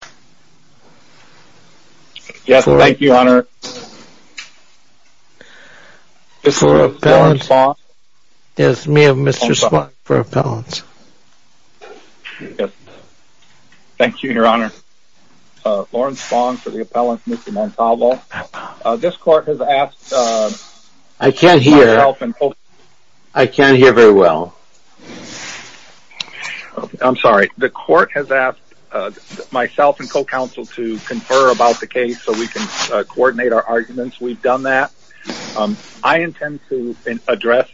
for the appellant, Mr. Montalvo. This court has asked myself and Mr. Rosario-Montalvo I can't hear very well. I'm sorry. The court has asked myself and co-counsel to confer about the case so we can coordinate our arguments. We've done that. I intend to address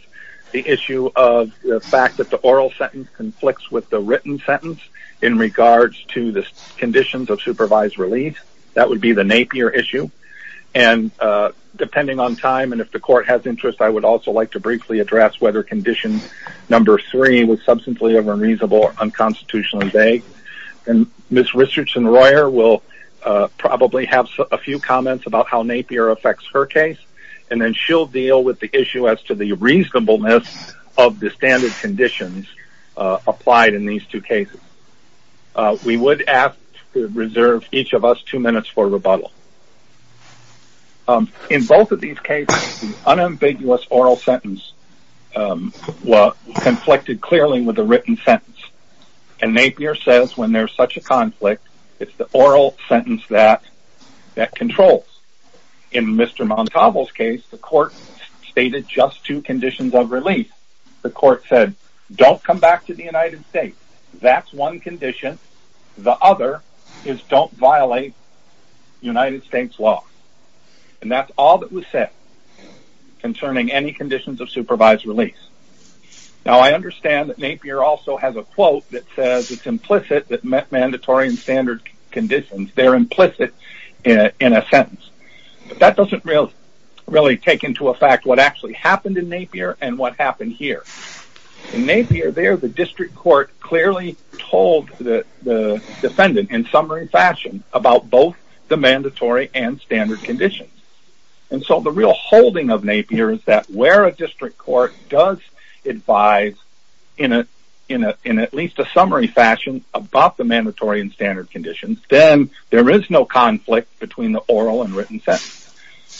the issue of the fact that the oral sentence conflicts with the written sentence in regards to the conditions of supervised relief. That would be the Napier issue. Depending on time and if the court has interest, I would also like to briefly address whether condition number three was substantially unreasonable, unconstitutional, and vague. Ms. Richardson-Royer will probably have a few comments about how Napier affects her case, and then she'll deal with the issue as to the reasonableness of the standard conditions applied in these two cases. We would ask to reserve each of us two minutes for rebuttal. In both of these cases, the unambiguous oral sentence conflicted clearly with the written sentence, and Napier says when there's such a conflict, it's the oral sentence that controls. In Mr. Montalvo's case, the court stated just two conditions of release. The court said, don't come back to the United States. That's one condition. The other is don't violate United States law. And that's all that was said concerning any conditions of supervised release. Now, I understand that Napier also has a quote that says it's implicit that mandatory and standard conditions, they're implicit in a sentence. But that doesn't really take into effect what actually happened in Napier and what happened here. In Napier there, the district court clearly told the defendant in summary fashion about both the mandatory and standard conditions. And so the real holding of Napier is that where a district court does advise in at least a summary fashion about the mandatory and standard conditions, then there is no conflict between the oral and written sentence.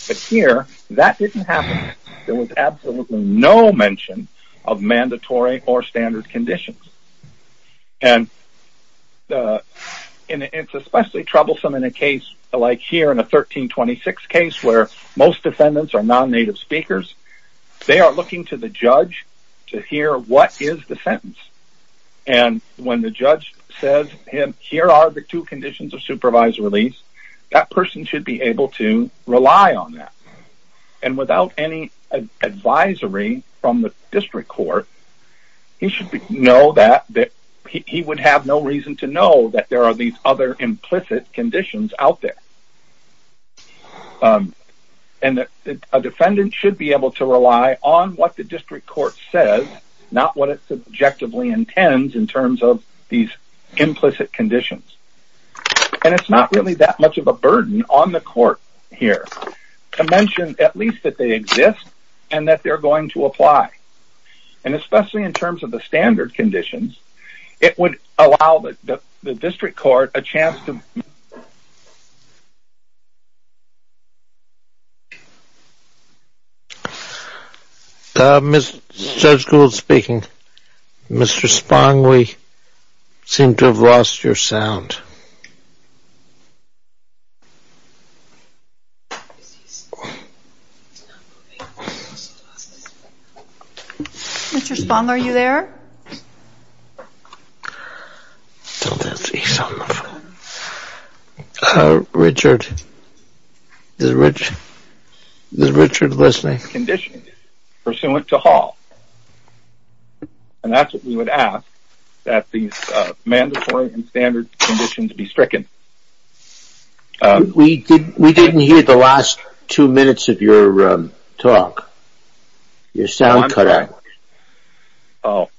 But here, that didn't happen. There was absolutely no mention of mandatory or standard conditions. And it's especially troublesome in a case like here in a 1326 case where most defendants are non-native speakers. They are looking to the judge to hear what is the sentence. And when the judge says, here are the two conditions of supervised release, that person should be able to rely on that. And without any advisory from the district court, he should know that he would have no reason to know that there are these other implicit conditions out there. And a defendant should be able to rely on what the district court says, not what it subjectively intends in terms of these implicit conditions. And it's not really that much of a burden on the court here to mention at least that they exist and that they're going to apply. And especially in terms of the standard conditions, it would allow the district court a chance to... Judge Gould speaking. Mr. Spong, we seem to have lost your sound. Mr. Spong, are you there? I don't see someone on the phone. Richard? Is Richard listening? Conditions pursuant to Hall. And that's what we would ask, that these mandatory and standard conditions be stricken. We didn't hear the last two minutes of your talk. Your sound cut out. Oh.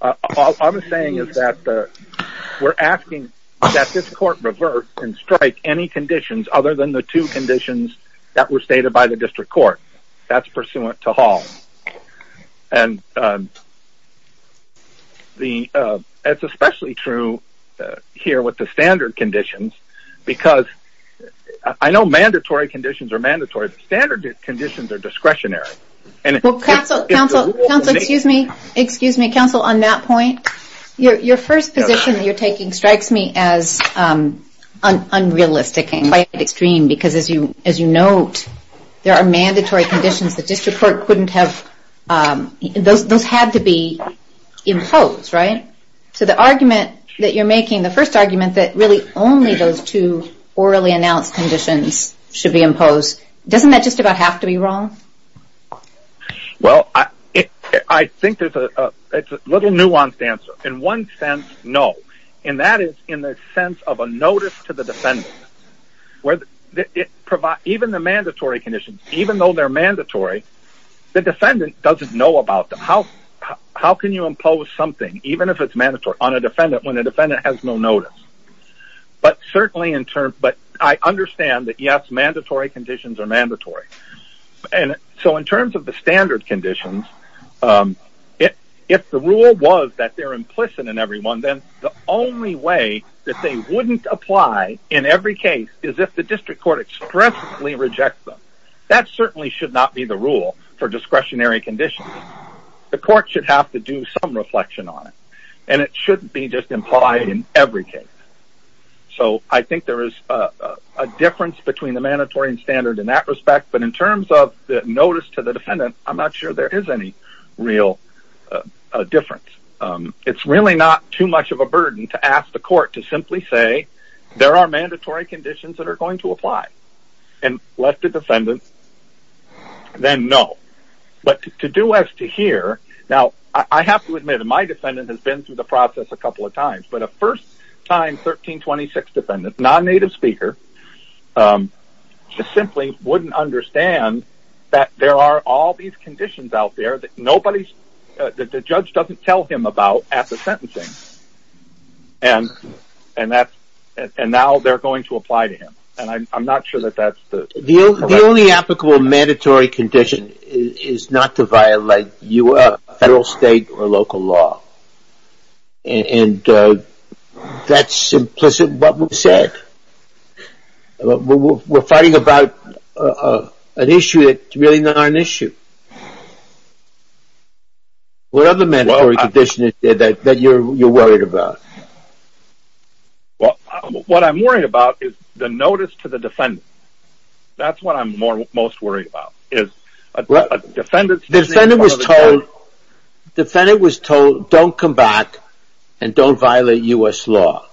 All I'm saying is that we're asking that this court revert and strike any conditions other than the two conditions that were stated by the district court. That's pursuant to Hall. And it's especially true here with the standard conditions, because I know mandatory conditions are mandatory, but standard conditions are discretionary. Counsel, excuse me. Counsel, on that point, your first position that you're taking strikes me as unrealistic and quite extreme. Because as you note, there are mandatory conditions that district court couldn't have... those had to be imposed, right? So the argument that you're making, the first argument that really only those two orally announced conditions should be imposed, doesn't that just about have to be wrong? Well, I think it's a little nuanced answer. In one sense, no. And that is in the sense of a notice to the defendant. Even the mandatory conditions, even though they're mandatory, the defendant doesn't know about them. How can you impose something, even if it's mandatory, on a defendant when a defendant has no notice? But certainly in terms... but I understand that yes, mandatory conditions are mandatory. So in terms of the standard conditions, if the rule was that they're implicit in every one, then the only way that they wouldn't apply in every case is if the district court expressly rejects them. That certainly should not be the rule for discretionary conditions. The court should have to do some reflection on it. And it shouldn't be just implied in every case. So I think there is a difference between the mandatory and standard in that respect. But in terms of the notice to the defendant, I'm not sure there is any real difference. It's really not too much of a burden to ask the court to simply say, there are mandatory conditions that are going to apply. And let the defendant then know. But to do as to here, now I have to admit that my defendant has been through the process a couple of times. But a first time 1326 defendant, non-native speaker, just simply wouldn't understand that there are all these conditions out there that the judge doesn't tell him about at the sentencing. And now they're going to apply to him. And I'm not sure that that's the correct... is not to violate federal, state, or local law. And that's implicit in what we've said. We're fighting about an issue that's really not an issue. What other mandatory conditions are there that you're worried about? What I'm worried about is the notice to the defendant. That's what I'm most worried about. The defendant was told don't come back and don't violate U.S. law.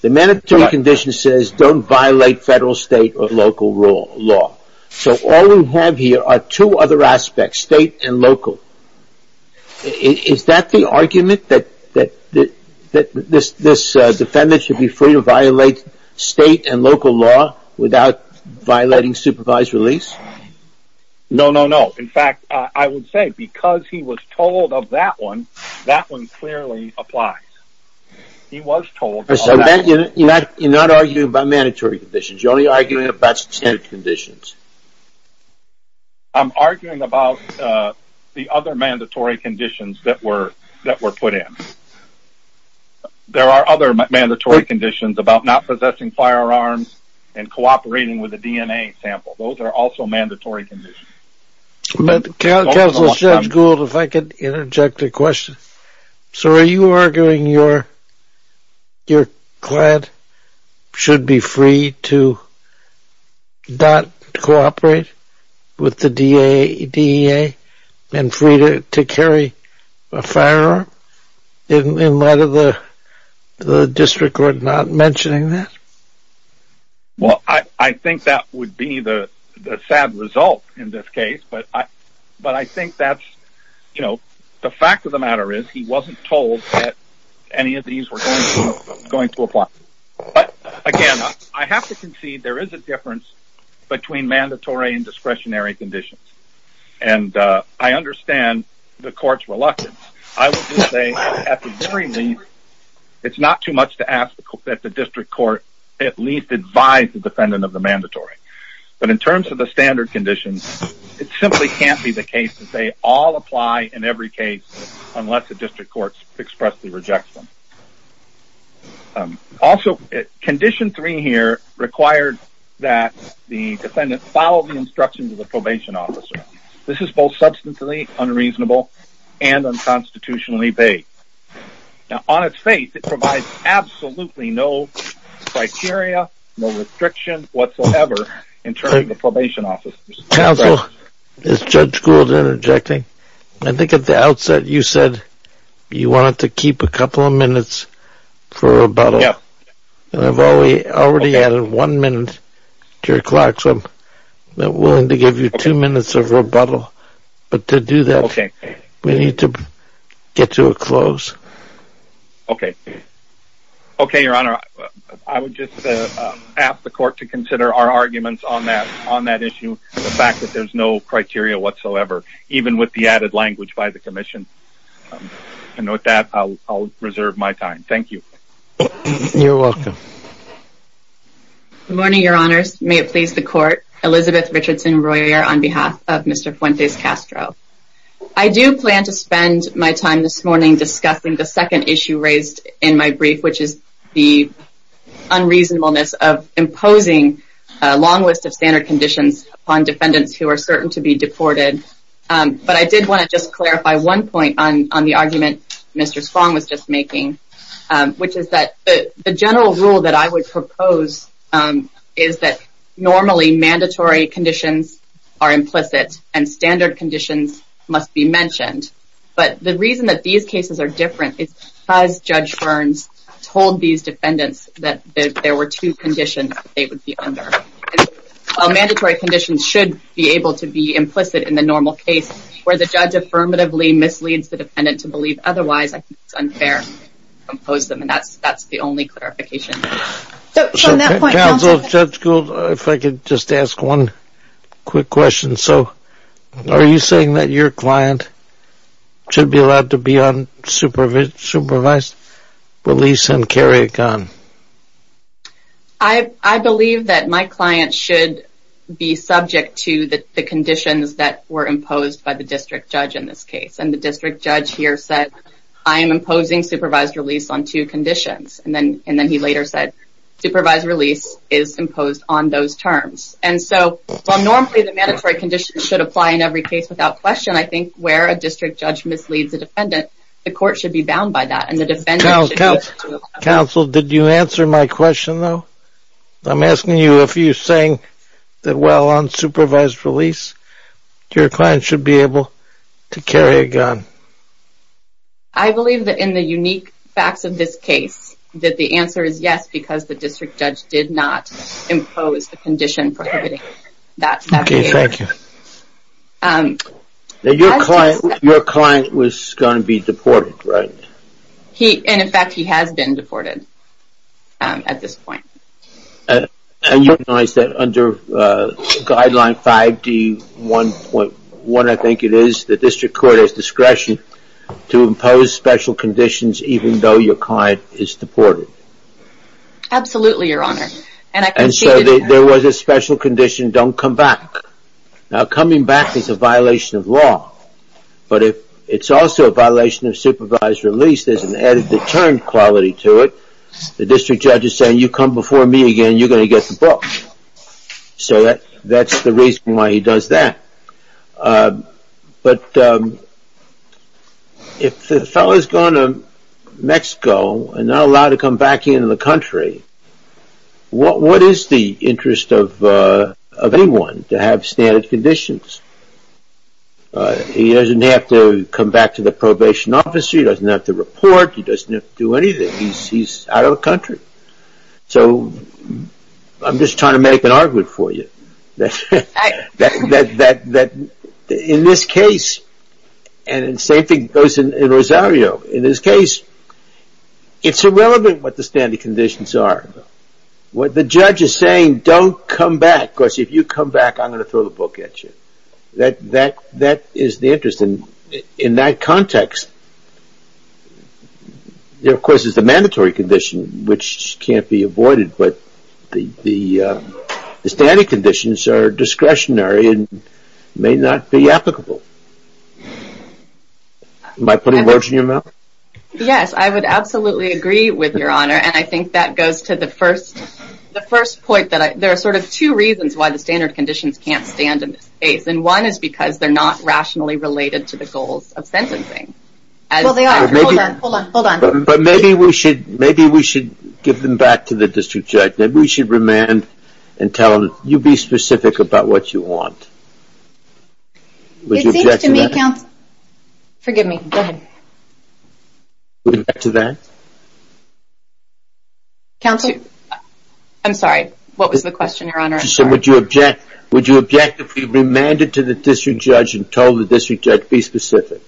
The mandatory condition says don't violate federal, state, or local law. So all we have here are two other aspects, state and local. Is that the argument that this defendant should be free to violate state and local law without violating supervised release? No, no, no. In fact, I would say because he was told of that one, that one clearly applies. He was told... So you're not arguing about mandatory conditions. You're only arguing about standard conditions. I'm arguing about the other mandatory conditions that were put in. There are other mandatory conditions about not possessing firearms and cooperating with a DNA sample. Those are also mandatory conditions. Counselor Judge Gould, if I could interject a question. So are you arguing your client should be free to not cooperate with the DNA and free to carry a firearm? In light of the district court not mentioning that? Well, I think that would be the sad result in this case. But I think that's, you know, the fact of the matter is he wasn't told that any of these were going to apply. But again, I have to concede there is a difference between mandatory and discretionary conditions. And I understand the court's reluctance. I would just say at the very least, it's not too much to ask that the district court at least advise the defendant of the mandatory. But in terms of the standard conditions, it simply can't be the case that they all apply in every case unless the district court expressly rejects them. Also, condition three here required that the defendant follow the instructions of the probation officer. This is both substantially unreasonable and unconstitutionally vague. Now, on its face, it provides absolutely no criteria, no restriction whatsoever in terms of the probation officers. Counsel, is Judge Gould interjecting? I think at the outset you said you wanted to keep a couple of minutes for rebuttal. And I've already added one minute to your clock, so I'm willing to give you two minutes of rebuttal. But to do that, we need to get to a close. Okay. Okay, Your Honor. I would just ask the court to consider our arguments on that issue, the fact that there's no criteria whatsoever, even with the added language by the commission. And with that, I'll reserve my time. Thank you. You're welcome. Good morning, Your Honors. May it please the court. Elizabeth Richardson Royer on behalf of Mr. Fuentes Castro. I do plan to spend my time this morning discussing the second issue raised in my brief, which is the unreasonableness of imposing a long list of standard conditions on defendants who are certain to be deported. But I did want to just clarify one point on the argument Mr. Spong was just making, which is that the general rule that I would propose is that normally mandatory conditions are implicit and standard conditions must be mentioned. But the reason that these cases are different is because Judge Ferns told these defendants that there were two conditions they would be under. While mandatory conditions should be able to be implicit in the normal case, where the judge affirmatively misleads the defendant to believe otherwise, I think it's unfair to impose them. And that's the only clarification. Counsel, Judge Gould, if I could just ask one quick question. So are you saying that your client should be allowed to be on supervised release and carry a gun? I believe that my client should be subject to the conditions that were imposed by the district judge in this case. And the district judge here said, I am imposing supervised release on two conditions. And then he later said, supervised release is imposed on those terms. And so while normally the mandatory conditions should apply in every case without question, I think where a district judge misleads a defendant, the court should be bound by that. Counsel, did you answer my question though? I'm asking you if you're saying that while on supervised release, your client should be able to carry a gun. I believe that in the unique facts of this case, that the answer is yes, because the district judge did not impose the condition prohibiting that. Okay, thank you. Your client was going to be deported, right? And in fact, he has been deported at this point. And you recognize that under guideline 5D1.1, I think it is, the district court has discretion to impose special conditions even though your client is deported. Absolutely, Your Honor. And so there was a special condition, don't come back. Now coming back is a violation of law. But it's also a violation of supervised release. There's an added deterrent quality to it. The district judge is saying, you come before me again, you're going to get the book. So that's the reason why he does that. But if the fellow has gone to Mexico and not allowed to come back into the country, what is the interest of anyone to have standard conditions? He doesn't have to come back to the probation office. He doesn't have to report. He doesn't have to do anything. He's out of the country. So I'm just trying to make an argument for you that in this case, and the same thing goes in Rosario. In this case, it's irrelevant what the standard conditions are. What the judge is saying, don't come back, because if you come back, I'm going to throw the book at you. That is the interest. And in that context, there of course is the mandatory condition, which can't be avoided. But the standard conditions are discretionary and may not be applicable. Am I putting words in your mouth? Yes, I would absolutely agree with your honor. And I think that goes to the first point. There are sort of two reasons why the standard conditions can't stand in this case. And one is because they're not rationally related to the goals of sentencing. Well, they are. Hold on, hold on, hold on. But maybe we should give them back to the district judge. Maybe we should remand and tell them, you be specific about what you want. Would you object to that? Forgive me. Go ahead. Would you object to that? Counselor? I'm sorry. What was the question, your honor? Would you object if we remanded to the district judge and told the district judge, be specific?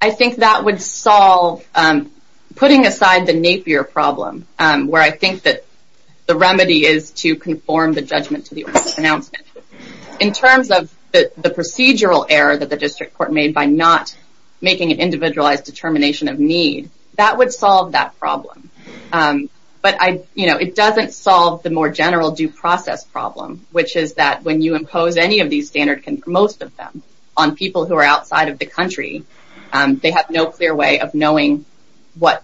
I think that would solve putting aside the Napier problem, where I think that the remedy is to conform the judgment to the order of pronouncement. In terms of the procedural error that the district court made by not making an individualized determination of need, that would solve that problem. But it doesn't solve the more general due process problem, which is that when you impose any of these standards, most of them, on people who are outside of the country, they have no clear way of knowing what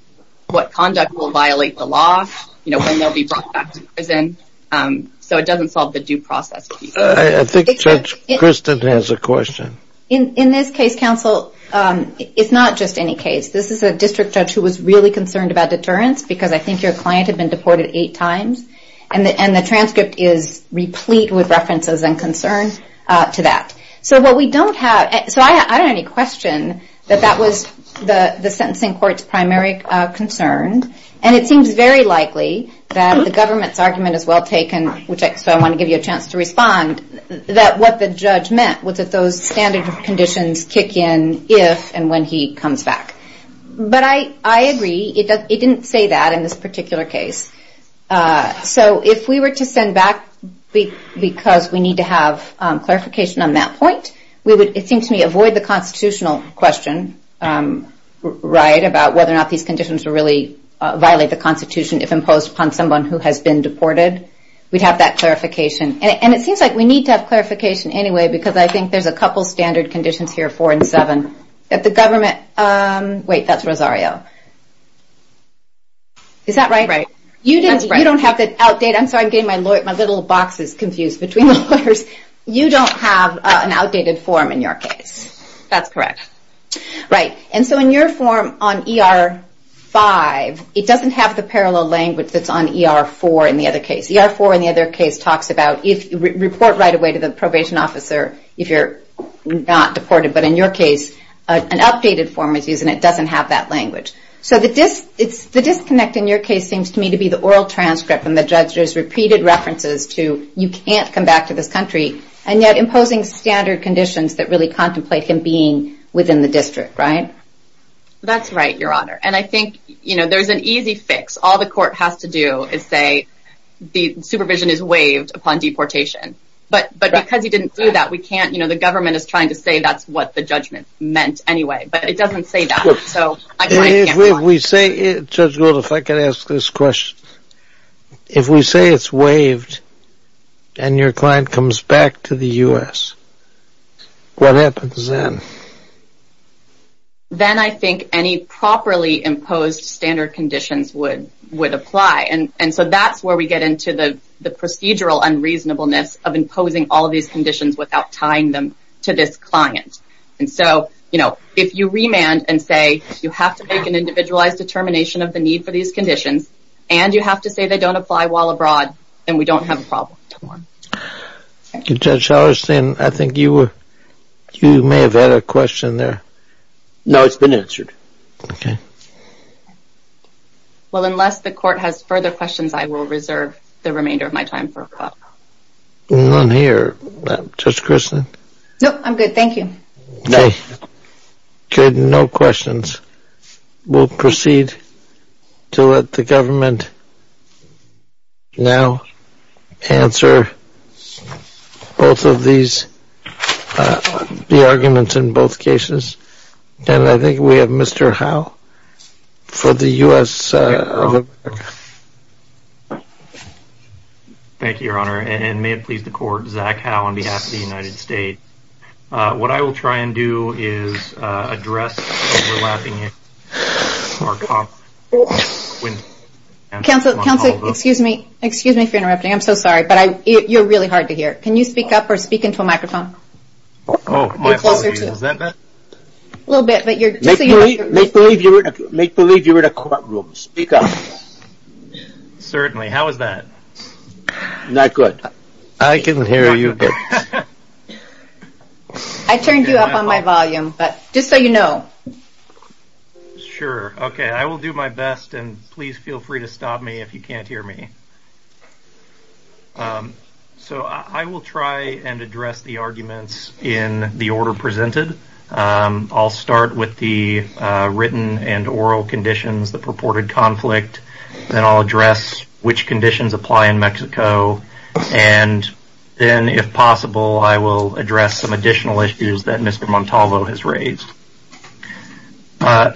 conduct will violate the law, when they'll be brought back to prison. So it doesn't solve the due process. I think Judge Kristen has a question. In this case, counsel, it's not just any case. This is a district judge who was really concerned about deterrence, because I think your client had been deported eight times, and the transcript is replete with references and concern to that. So I don't have any question that that was the sentencing court's primary concern, and it seems very likely that the government's argument is well taken, so I want to give you a chance to respond, that what the judge meant was that those standard conditions kick in if and when he comes back. But I agree. It didn't say that in this particular case. So if we were to send back, because we need to have clarification on that point, we would, it seems to me, avoid the constitutional question, right, about whether or not these conditions would really violate the Constitution if imposed upon someone who has been deported. We'd have that clarification. And it seems like we need to have clarification anyway, because I think there's a couple standard conditions here, four and seven, that the government, wait, that's Rosario. Is that right? Right. You don't have the outdated, I'm sorry, I'm getting my little boxes confused between the lawyers. You don't have an outdated form in your case. That's correct. Right. And so in your form on ER-5, it doesn't have the parallel language that's on ER-4 in the other case. ER-4 in the other case talks about report right away to the probation officer if you're not deported. But in your case, an updated form is used, and it doesn't have that language. So the disconnect in your case seems to me to be the oral transcript and the judge's repeated references to you can't come back to this country, and yet imposing standard conditions that really contemplate him being within the district, right? That's right, Your Honor. And I think, you know, there's an easy fix. All the court has to do is say the supervision is waived upon deportation. But because he didn't do that, we can't, you know, the government is trying to say that's what the judgment meant anyway. But it doesn't say that. Judge Gould, if I could ask this question. If we say it's waived and your client comes back to the U.S., what happens then? Then I think any properly imposed standard conditions would apply. And so that's where we get into the procedural unreasonableness of imposing all these conditions without tying them to this client. And so, you know, if you remand and say you have to make an individualized determination of the need for these conditions, and you have to say they don't apply while abroad, then we don't have a problem. Judge Howarth, I think you may have had a question there. No, it's been answered. Okay. Well, unless the court has further questions, I will reserve the remainder of my time for a call. Well, I'm here. Judge Christin. No, I'm good. Thank you. Good. No questions. We'll proceed to let the government now answer both of these, the arguments in both cases. And I think we have Mr. Howe for the U.S. Thank you, Your Honor. And may it please the court, Zach Howe on behalf of the United States. What I will try and do is address overlapping. Counsel, excuse me. Excuse me for interrupting. I'm so sorry. But you're really hard to hear. Can you speak up or speak into a microphone? Oh, my apologies. Is that better? A little bit. Make believe you're in a courtroom. Speak up. Certainly. How is that? Not good. I can hear you. I turned you up on my volume. But just so you know. Sure. Okay. I will do my best. And please feel free to stop me if you can't hear me. So I will try and address the arguments in the order presented. I'll start with the written and oral conditions, the purported conflict. Then I'll address which conditions apply in Mexico. And then, if possible, I will address some additional issues that Mr. Montalvo has raised.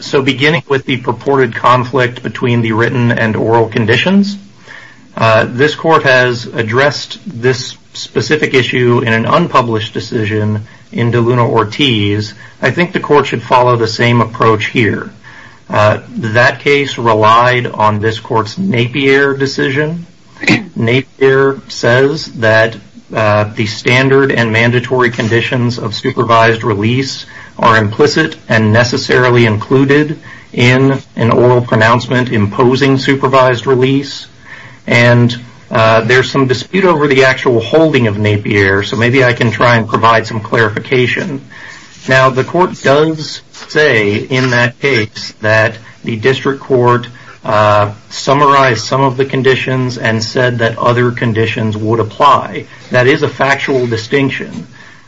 So beginning with the purported conflict between the written and oral conditions, this court has addressed this specific issue in an unpublished decision in De Luna Ortiz. I think the court should follow the same approach here. That case relied on this court's Napier decision. Napier says that the standard and mandatory conditions of supervised release are implicit and necessarily included in an oral pronouncement imposing supervised release. And there's some dispute over the actual holding of Napier. So maybe I can try and provide some clarification. Now, the court does say in that case that the district court summarized some of the conditions and said that other conditions would apply. That is a factual distinction.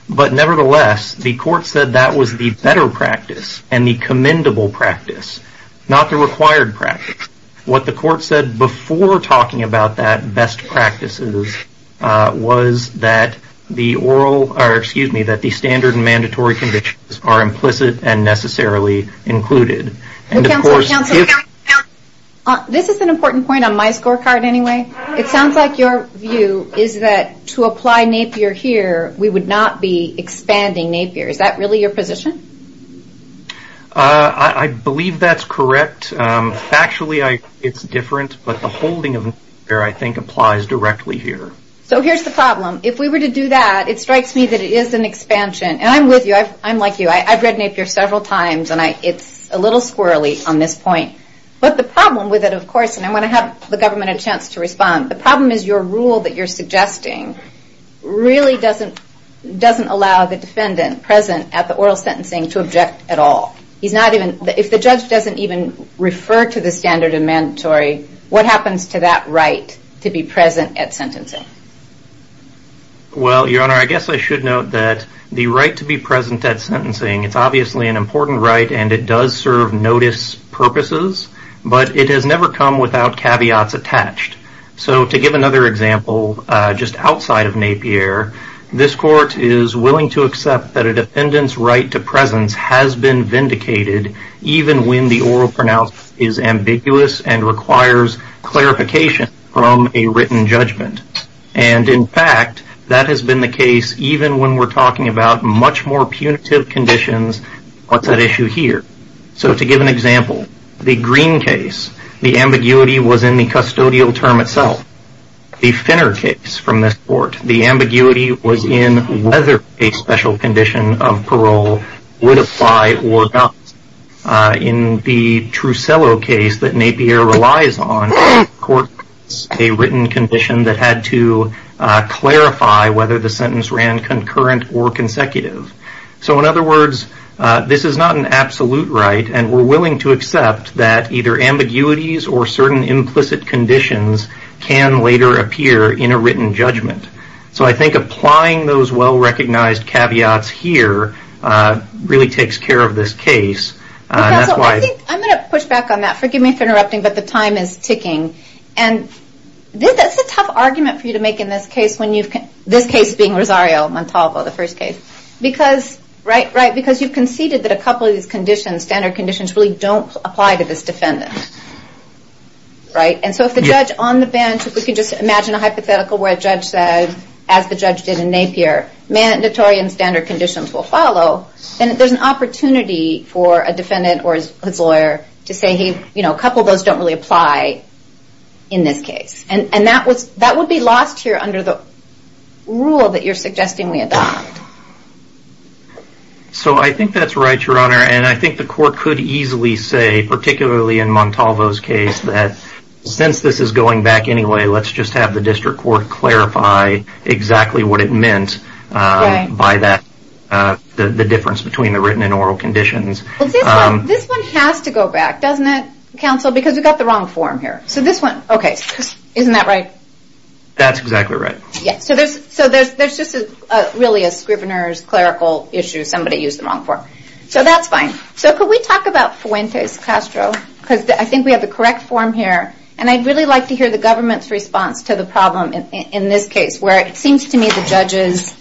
But nevertheless, the court said that was the better practice and the commendable practice, not the required practice. What the court said before talking about that best practices was that the standard and mandatory conditions are implicit and necessarily included. This is an important point on my scorecard anyway. It sounds like your view is that to apply Napier here, we would not be expanding Napier. Is that really your position? I believe that's correct. Factually, it's different. But the holding of Napier, I think, applies directly here. So here's the problem. If we were to do that, it strikes me that it is an expansion. And I'm with you. I'm like you. I've read Napier several times, and it's a little squirrely on this point. But the problem with it, of course, and I want to have the government a chance to respond, the problem is your rule that you're suggesting really doesn't allow the defendant present at the oral sentencing to object at all. If the judge doesn't even refer to the standard and mandatory, what happens to that right to be present at sentencing? Well, Your Honor, I guess I should note that the right to be present at sentencing, it's obviously an important right, and it does serve notice purposes, but it has never come without caveats attached. So to give another example, just outside of Napier, this court is willing to accept that a defendant's right to presence has been requires clarification from a written judgment. And in fact, that has been the case even when we're talking about much more punitive conditions on that issue here. So to give an example, the Green case, the ambiguity was in the custodial term itself. The Finner case from this court, the ambiguity was in whether a special condition of parole would apply or not. In the Trucello case that Napier relies on, the court has a written condition that had to clarify whether the sentence ran concurrent or consecutive. So in other words, this is not an absolute right, and we're willing to accept that either ambiguities or certain implicit conditions can later appear in a written judgment. So I think applying those well-recognized caveats here really takes care of this case. I'm going to push back on that. Forgive me for interrupting, but the time is ticking. And that's a tough argument for you to make in this case, this case being Rosario Montalvo, the first case. Because you've conceded that a couple of these conditions, standard conditions, really don't apply to this defendant. And so if the judge on the bench, if we could just imagine a hypothetical where a judge said, as the judge did in Napier, mandatory and standard conditions will follow, then there's an opportunity for a defendant or his lawyer to say, hey, a couple of those don't really apply in this case. And that would be lost here under the rule that you're suggesting we adopt. So I think that's right, Your Honor, and I think the court could easily say, particularly in Montalvo's case, that since this is going back anyway, let's just have the district court clarify exactly what it meant by that, the difference between the written and oral conditions. This one has to go back, doesn't it, counsel? Because we've got the wrong form here. So this one, okay, isn't that right? That's exactly right. So there's just really a Scrivener's clerical issue, somebody used the wrong form. So that's fine. So could we talk about Fuentes-Castro? Because I think we have the correct form here. And I'd really like to hear the government's response to the problem in this case, where it seems to me the judge is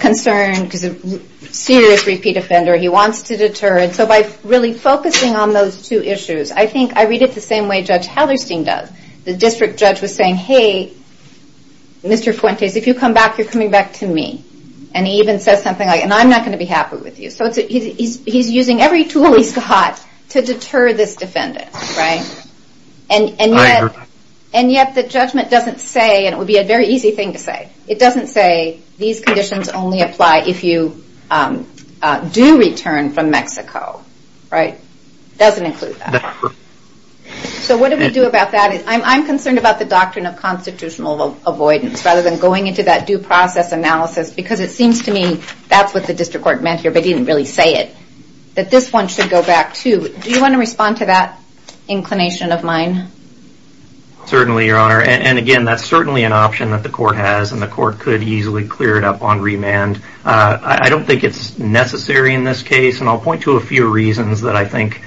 concerned because it's a serious repeat offender. He wants to deter it. So by really focusing on those two issues, I think I read it the same way Judge Hetherstein does. The district judge was saying, hey, Mr. Fuentes, if you come back, you're coming back to me. And he even says something like, and I'm not going to be happy with you. So he's using every tool he's got to deter this defendant, right? And yet the judgment doesn't say, and it would be a very easy thing to say, it doesn't say these conditions only apply if you do return from Mexico, right? It doesn't include that. So what do we do about that? I'm concerned about the doctrine of constitutional avoidance, rather than going into that due process analysis, because it seems to me that's what the district court meant here, but didn't really say it. That this one should go back, too. Do you want to respond to that inclination of mine? Certainly, Your Honor. And again, that's certainly an option that the court has, and the court could easily clear it up on remand. I don't think it's necessary in this case, and I'll point to a few reasons that I think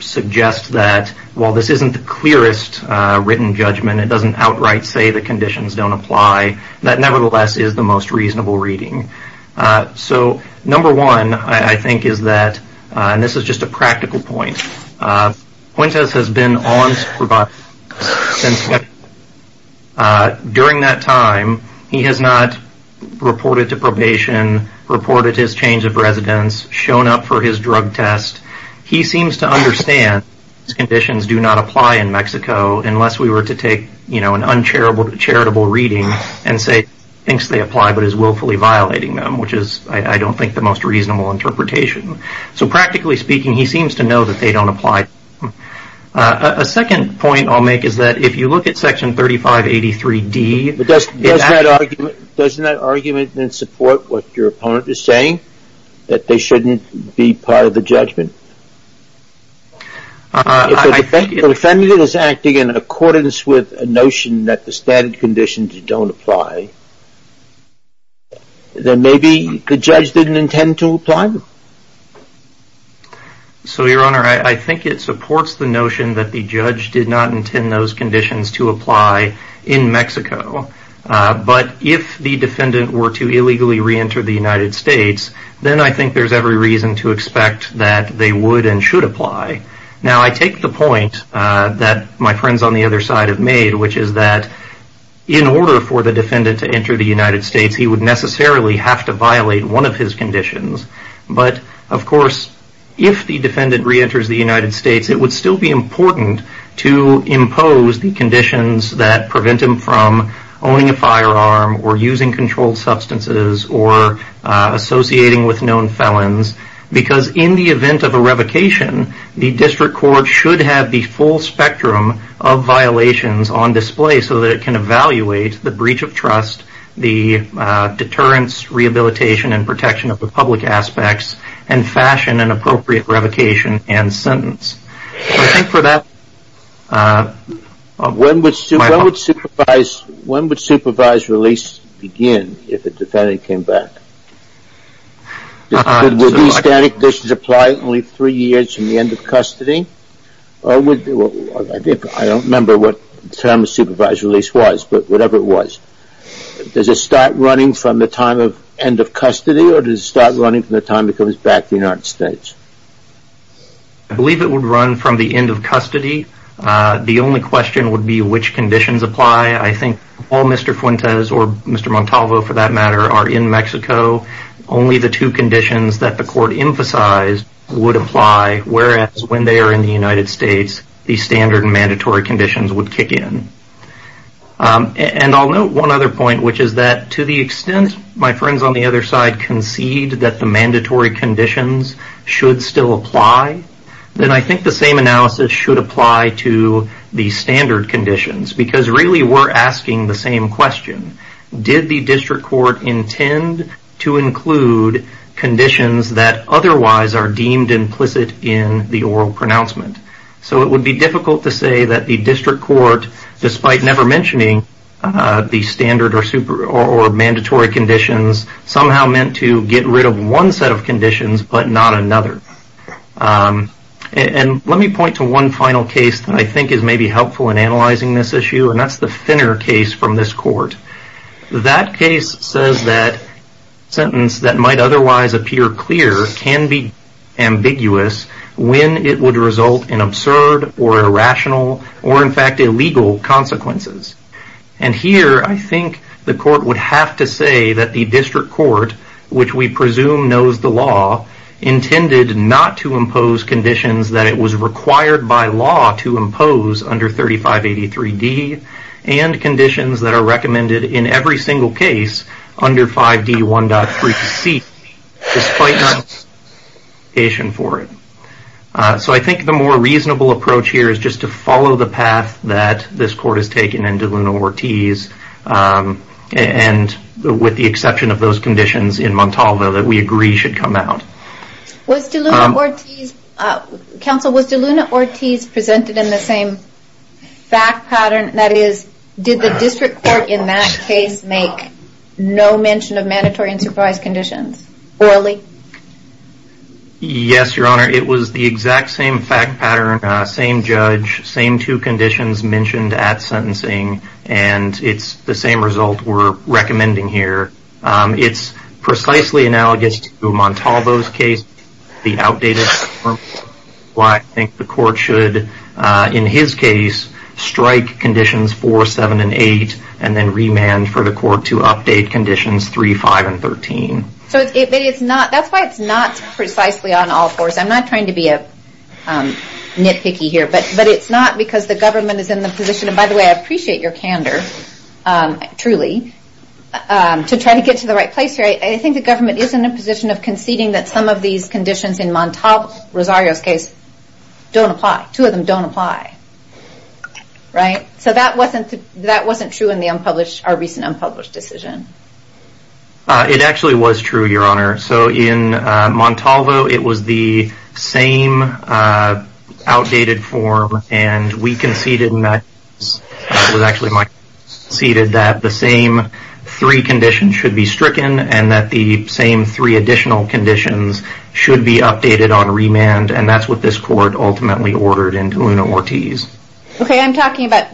suggest that while this isn't the clearest written judgment, it doesn't outright say the conditions don't apply, that nevertheless is the most reasonable reading. So number one, I think is that, and this is just a practical point, Puentes has been on probation since February. During that time, he has not reported to probation, reported his change of residence, shown up for his drug test. He seems to understand these conditions do not apply in Mexico, unless we were to take, you know, an uncharitable reading and say he thinks they apply, but is willfully violating them, which is, I don't think, the most reasonable interpretation. So practically speaking, he seems to know that they don't apply. A second point I'll make is that if you look at Section 3583D, it actually Doesn't that argument then support what your opponent is saying? That they shouldn't be part of the judgment? I think the defendant is acting in accordance with a notion that the standard conditions don't apply. Then maybe the judge didn't intend to apply? So, Your Honor, I think it supports the notion that the judge did not intend those conditions to apply in Mexico. But if the defendant were to illegally reenter the United States, then I think there's every reason to expect that they would and should apply. Now I take the point that my friends on the other side have made, which is that in order for the defendant to enter the United States, he would necessarily have to violate one of his conditions. But, of course, if the defendant reenters the United States, it would still be important to impose the conditions that prevent him from owning a firearm or using controlled substances or associating with known felons, because in the event of a revocation, the district court should have the full spectrum of the breach of trust, the deterrence, rehabilitation, and protection of the public aspects, and fashion an appropriate revocation and sentence. I think for that... When would supervised release begin if the defendant came back? Would these standard conditions apply only three years from the end of custody? I don't remember what term supervised release was, but whatever it was. Does it start running from the time of end of custody or does it start running from the time he comes back to the United States? I believe it would run from the end of custody. The only question would be which conditions apply. I think all Mr. Fuentes or Mr. Montalvo, for that matter, are in Mexico. Only the two conditions that the court emphasized would apply, whereas when they are in the United States, the standard and mandatory conditions would kick in. I'll note one other point, which is that to the extent my friends on the other side concede that the mandatory conditions should still apply, then I think the same analysis should apply to the standard conditions, because really we're asking the same question. Did the district court intend to include conditions that otherwise are deemed implicit in the oral pronouncement? It would be difficult to say that the district court, despite never mentioning the standard or mandatory conditions, somehow meant to get rid of one set of conditions but not another. Let me point to one final case that I think is maybe helpful in analyzing this issue, and that's the Finner case from this court. That case says that a sentence that might otherwise appear clear can be ambiguous when it would result in absurd or irrational or, in fact, illegal consequences. Here, I think the court would have to say that the district court, which we presume knows the law, intended not to impose conditions that it was required by statute under 3583D and conditions that are recommended in every single case under 5D1.3C, despite not asking for it. So I think the more reasonable approach here is just to follow the path that this court has taken in DeLuna-Ortiz and with the exception of those conditions in Montalvo that we agree should come out. Counsel, was DeLuna-Ortiz presented in the same fact pattern? That is, did the district court in that case make no mention of mandatory and supervised conditions? Orally? Yes, Your Honor. It was the exact same fact pattern, same judge, same two conditions mentioned at sentencing, and it's the same result we're recommending here. It's precisely analogous to Montalvo's case. The outdated court, why I think the court should, in his case, strike conditions 4, 7, and 8 and then remand for the court to update conditions 3, 5, and 13. So that's why it's not precisely on all fours. I'm not trying to be nitpicky here, but it's not because the government is in your candor, truly, to try to get to the right place here. I think the government is in a position of conceding that some of these conditions in Montalvo, Rosario's case, don't apply. Two of them don't apply. So that wasn't true in our recent unpublished decision. It actually was true, Your Honor. So in Montalvo, it was the same outdated form, and we conceded in that case. It was actually my conceded that the same three conditions should be stricken and that the same three additional conditions should be updated on remand. And that's what this court ultimately ordered in Una Ortiz. Okay, I'm talking about,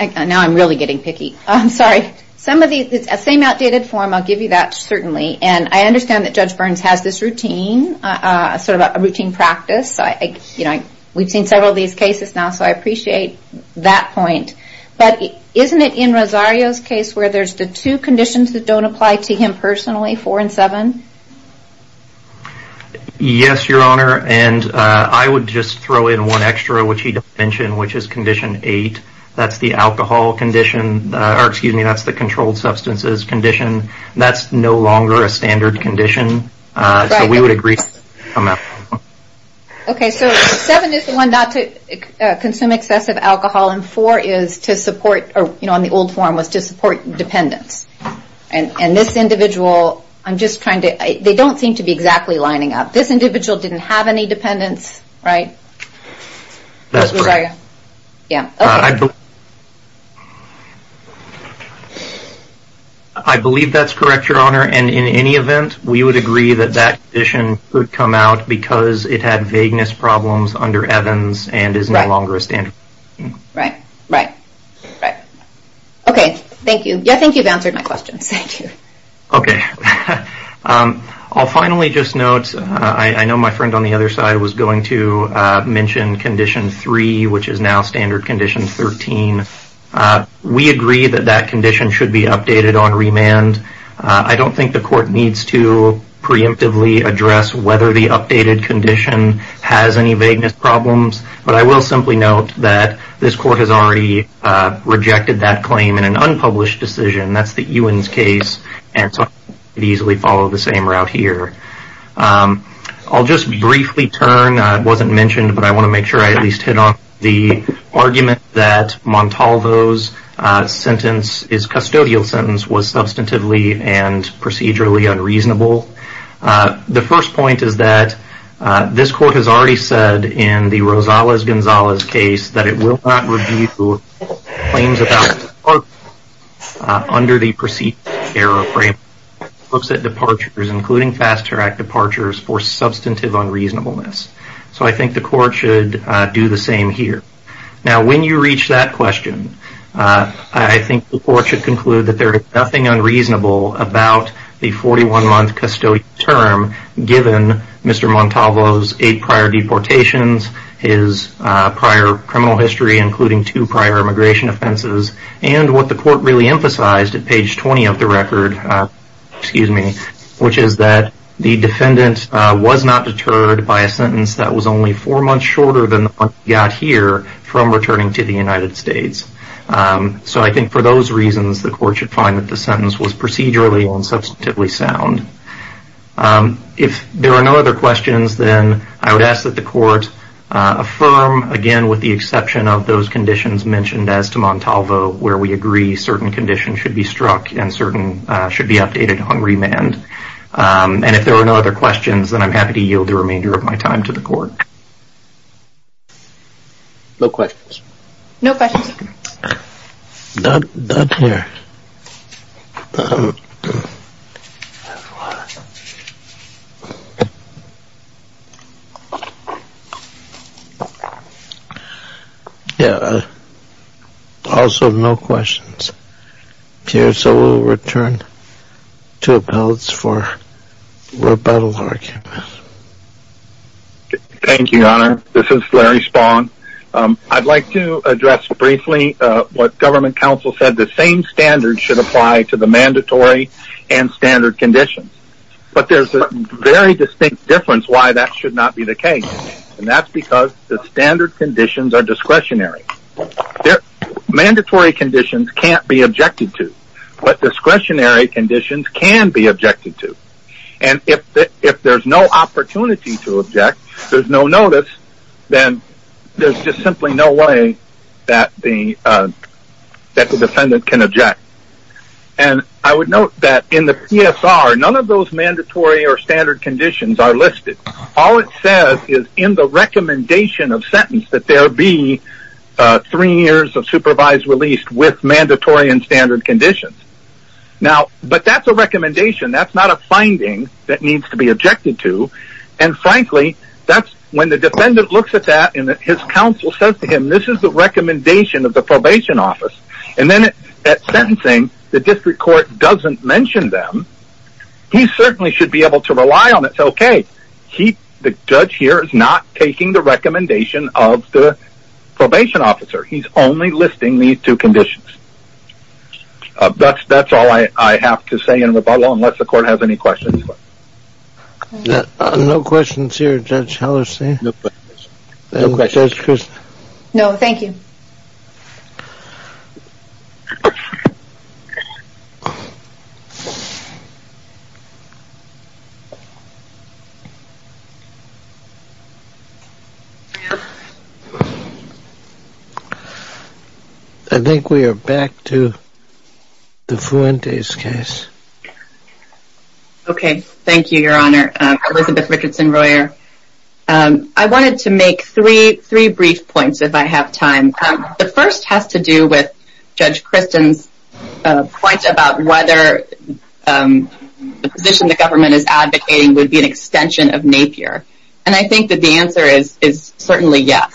now I'm really getting picky. I'm sorry. Some of these, the same outdated form, I'll give you that certainly. And I understand that Judge Burns has this routine, sort of a routine practice. We've seen several of these cases now, so I appreciate that point. But isn't it in Rosario's case where there's the two conditions that don't apply to him personally, four and seven? Yes, Your Honor. And I would just throw in one extra, which he didn't mention, which is condition eight. That's the alcohol condition, or excuse me, that's the controlled substances condition. That's no longer a standard condition. So we would agree to that. Okay, so seven is the one not to consume excessive alcohol, and four is to support, or in the old form, was to support dependence. And this individual, I'm just trying to, they don't seem to be exactly lining up. This individual didn't have any dependence, right? That's correct. Yeah. Okay. I believe that's correct, Your Honor. And in any event, we would agree that that condition could come out because it had vagueness problems under Evans and is no longer a standard condition. Right. Right. Right. Okay. Thank you. Yeah, I think you've answered my question. Thank you. Okay. I'll finally just note, I know my friend on the other side was going to mention condition three, which is now standard condition 13. We agree that that condition should be updated on remand. I don't think the court needs to preemptively address whether the updated condition has any vagueness problems, but I will simply note that this court has already rejected that claim in an unpublished decision. That's the Ewens case, and so I could easily follow the same route here. I'll just briefly turn, it wasn't mentioned, but I want to make sure I at least hit on the argument that Montalvo's sentence, his custodial sentence, was substantively and procedurally unreasonable. The first point is that this court has already said in the Rosales-Gonzalez case that it will not review claims about departure under the procedural error framework. It looks at departures, including FASTER Act departures, for substantive unreasonableness. So I think the court should do the same here. Now, when you reach that question, I think the court should conclude that there is nothing unreasonable about the 41-month custodial term given Mr. Montalvo's eight prior deportations, his prior criminal history, including two prior immigration offenses, and what the court really emphasized at page 20 of the record, which is that the defendant was not deterred by a sentence that was only four months shorter than the one he got here from returning to the United States. So I think for those reasons, the court should find that the sentence was procedurally and substantively sound. If there are no other questions, then I would ask that the court affirm, again, with the exception of those conditions mentioned as to Montalvo, where we agree certain conditions should be struck and certain should be updated on remand. And if there are no other questions, then I'm happy to yield the remainder of my time to the court. No questions. No questions. Not here. Also, no questions. Chair, so we'll return to appellants for rebuttal arguments. Thank you, Your Honor. This is Larry Spohn. I'd like to address briefly what government counsel said, the same standards should apply to the mandatory and standard conditions. But there's a very distinct difference why that should not be the case, and that's because the standard conditions are discretionary. Mandatory conditions can't be objected to, but discretionary conditions can be objected to. And if there's no opportunity to object, there's no notice, then there's just simply no way that the defendant can object. And I would note that in the PSR, none of those mandatory or standard conditions are listed. All it says is in the recommendation of sentence that there be three years of supervised release with mandatory and standard conditions. Now, but that's a recommendation. That's not a finding that needs to be objected to. And frankly, that's when the defendant looks at that and his counsel says to him, this is the recommendation of the probation office. And then at sentencing, the district court doesn't mention them. He certainly should be able to rely on it. It's okay. The judge here is not taking the recommendation of the probation officer. He's only listing these two conditions. That's all I have to say in rebuttal, unless the court has any questions. No questions here, Judge Hellerstein? No questions. No questions. No, thank you. I think we are back to the Fuentes case. Okay. Thank you, Your Honor. Elizabeth Richardson-Royer. I wanted to make three brief points, if I have time. The first has to do with Judge Kristen's point about whether the position the extension of Napier. And I think that the answer is certainly yes.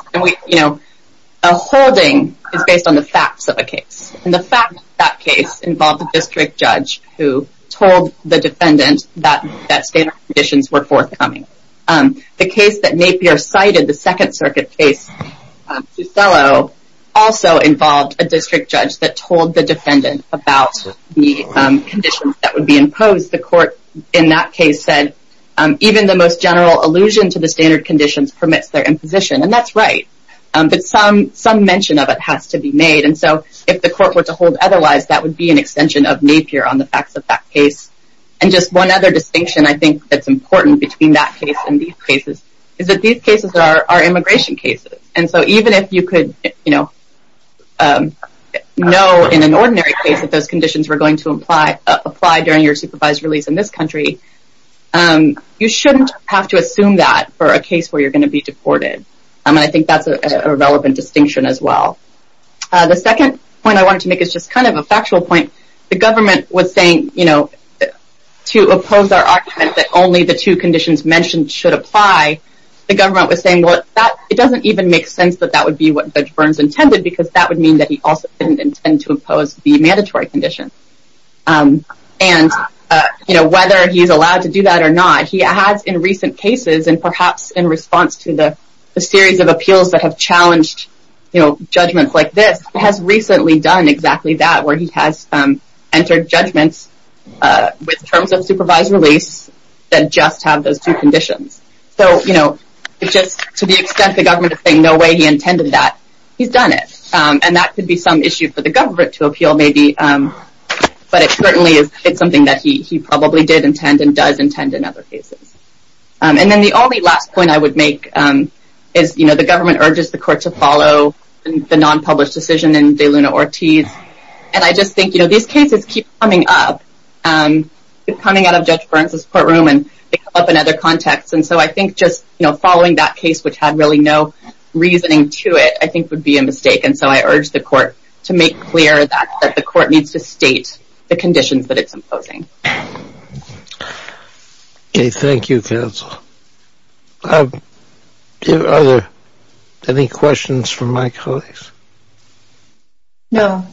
A holding is based on the facts of a case. And the fact of that case involved a district judge who told the defendant that standard conditions were forthcoming. The case that Napier cited, the Second Circuit case, also involved a district judge that told the defendant about the conditions that would be imposed. And as the court in that case said, even the most general allusion to the standard conditions permits their imposition. And that's right. But some mention of it has to be made. And so if the court were to hold otherwise, that would be an extension of Napier on the facts of that case. And just one other distinction I think that's important between that case and these cases is that these cases are immigration cases. And so even if you could know in an ordinary case that those conditions were and you're not going to be able to enforce them in your supervised release in this country, you shouldn't have to assume that for a case where you're going to be deported. And I think that's a relevant distinction as well. The second point I wanted to make is just kind of a factual point. The government was saying, you know, to oppose our argument that only the two conditions mentioned should apply, the government was saying, well, it doesn't even make sense that that would be what Judge Burns intended, because that would mean that he also didn't intend to impose the mandatory condition. And, you know, whether he's allowed to do that or not, he has in recent cases and perhaps in response to the series of appeals that have challenged, you know, judgments like this has recently done exactly that, where he has entered judgments with terms of supervised release that just have those two conditions. So, you know, just to the extent the government is saying no way he intended that, he's done it. And that could be some issue for the government to appeal maybe, but it certainly is something that he probably did intend and does intend in other cases. And then the only last point I would make is, you know, the government urges the court to follow the non-published decision in De Luna Ortiz. And I just think, you know, these cases keep coming up, coming out of Judge Burns' courtroom and up in other contexts. And so I think just, you know, following that case, which had really no reasoning to it, I think would be a mistake. And so I urge the court to make clear that the court needs to state the conditions that it's imposing. Okay. Thank you, counsel. Are there any questions from my colleagues? No.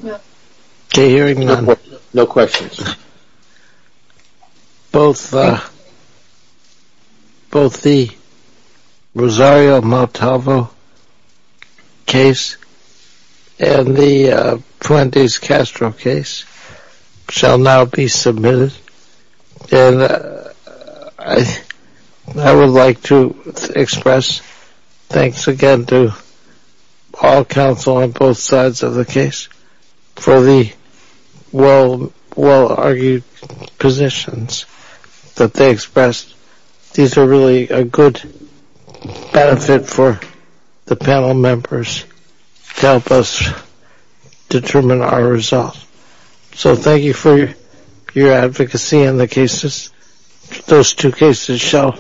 Okay. Hearing none. No questions. Both the Rosario-Montalvo case and the Fuentes-Castro case shall now be submitted. And I would like to express thanks again to all counsel on both sides of the panel. I think the counsel argued positions that they expressed. These are really a good benefit for the panel members to help us determine our results. So thank you for your advocacy on the cases. Those two cases shall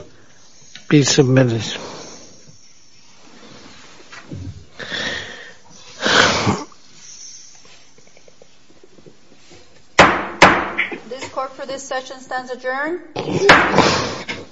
be submitted.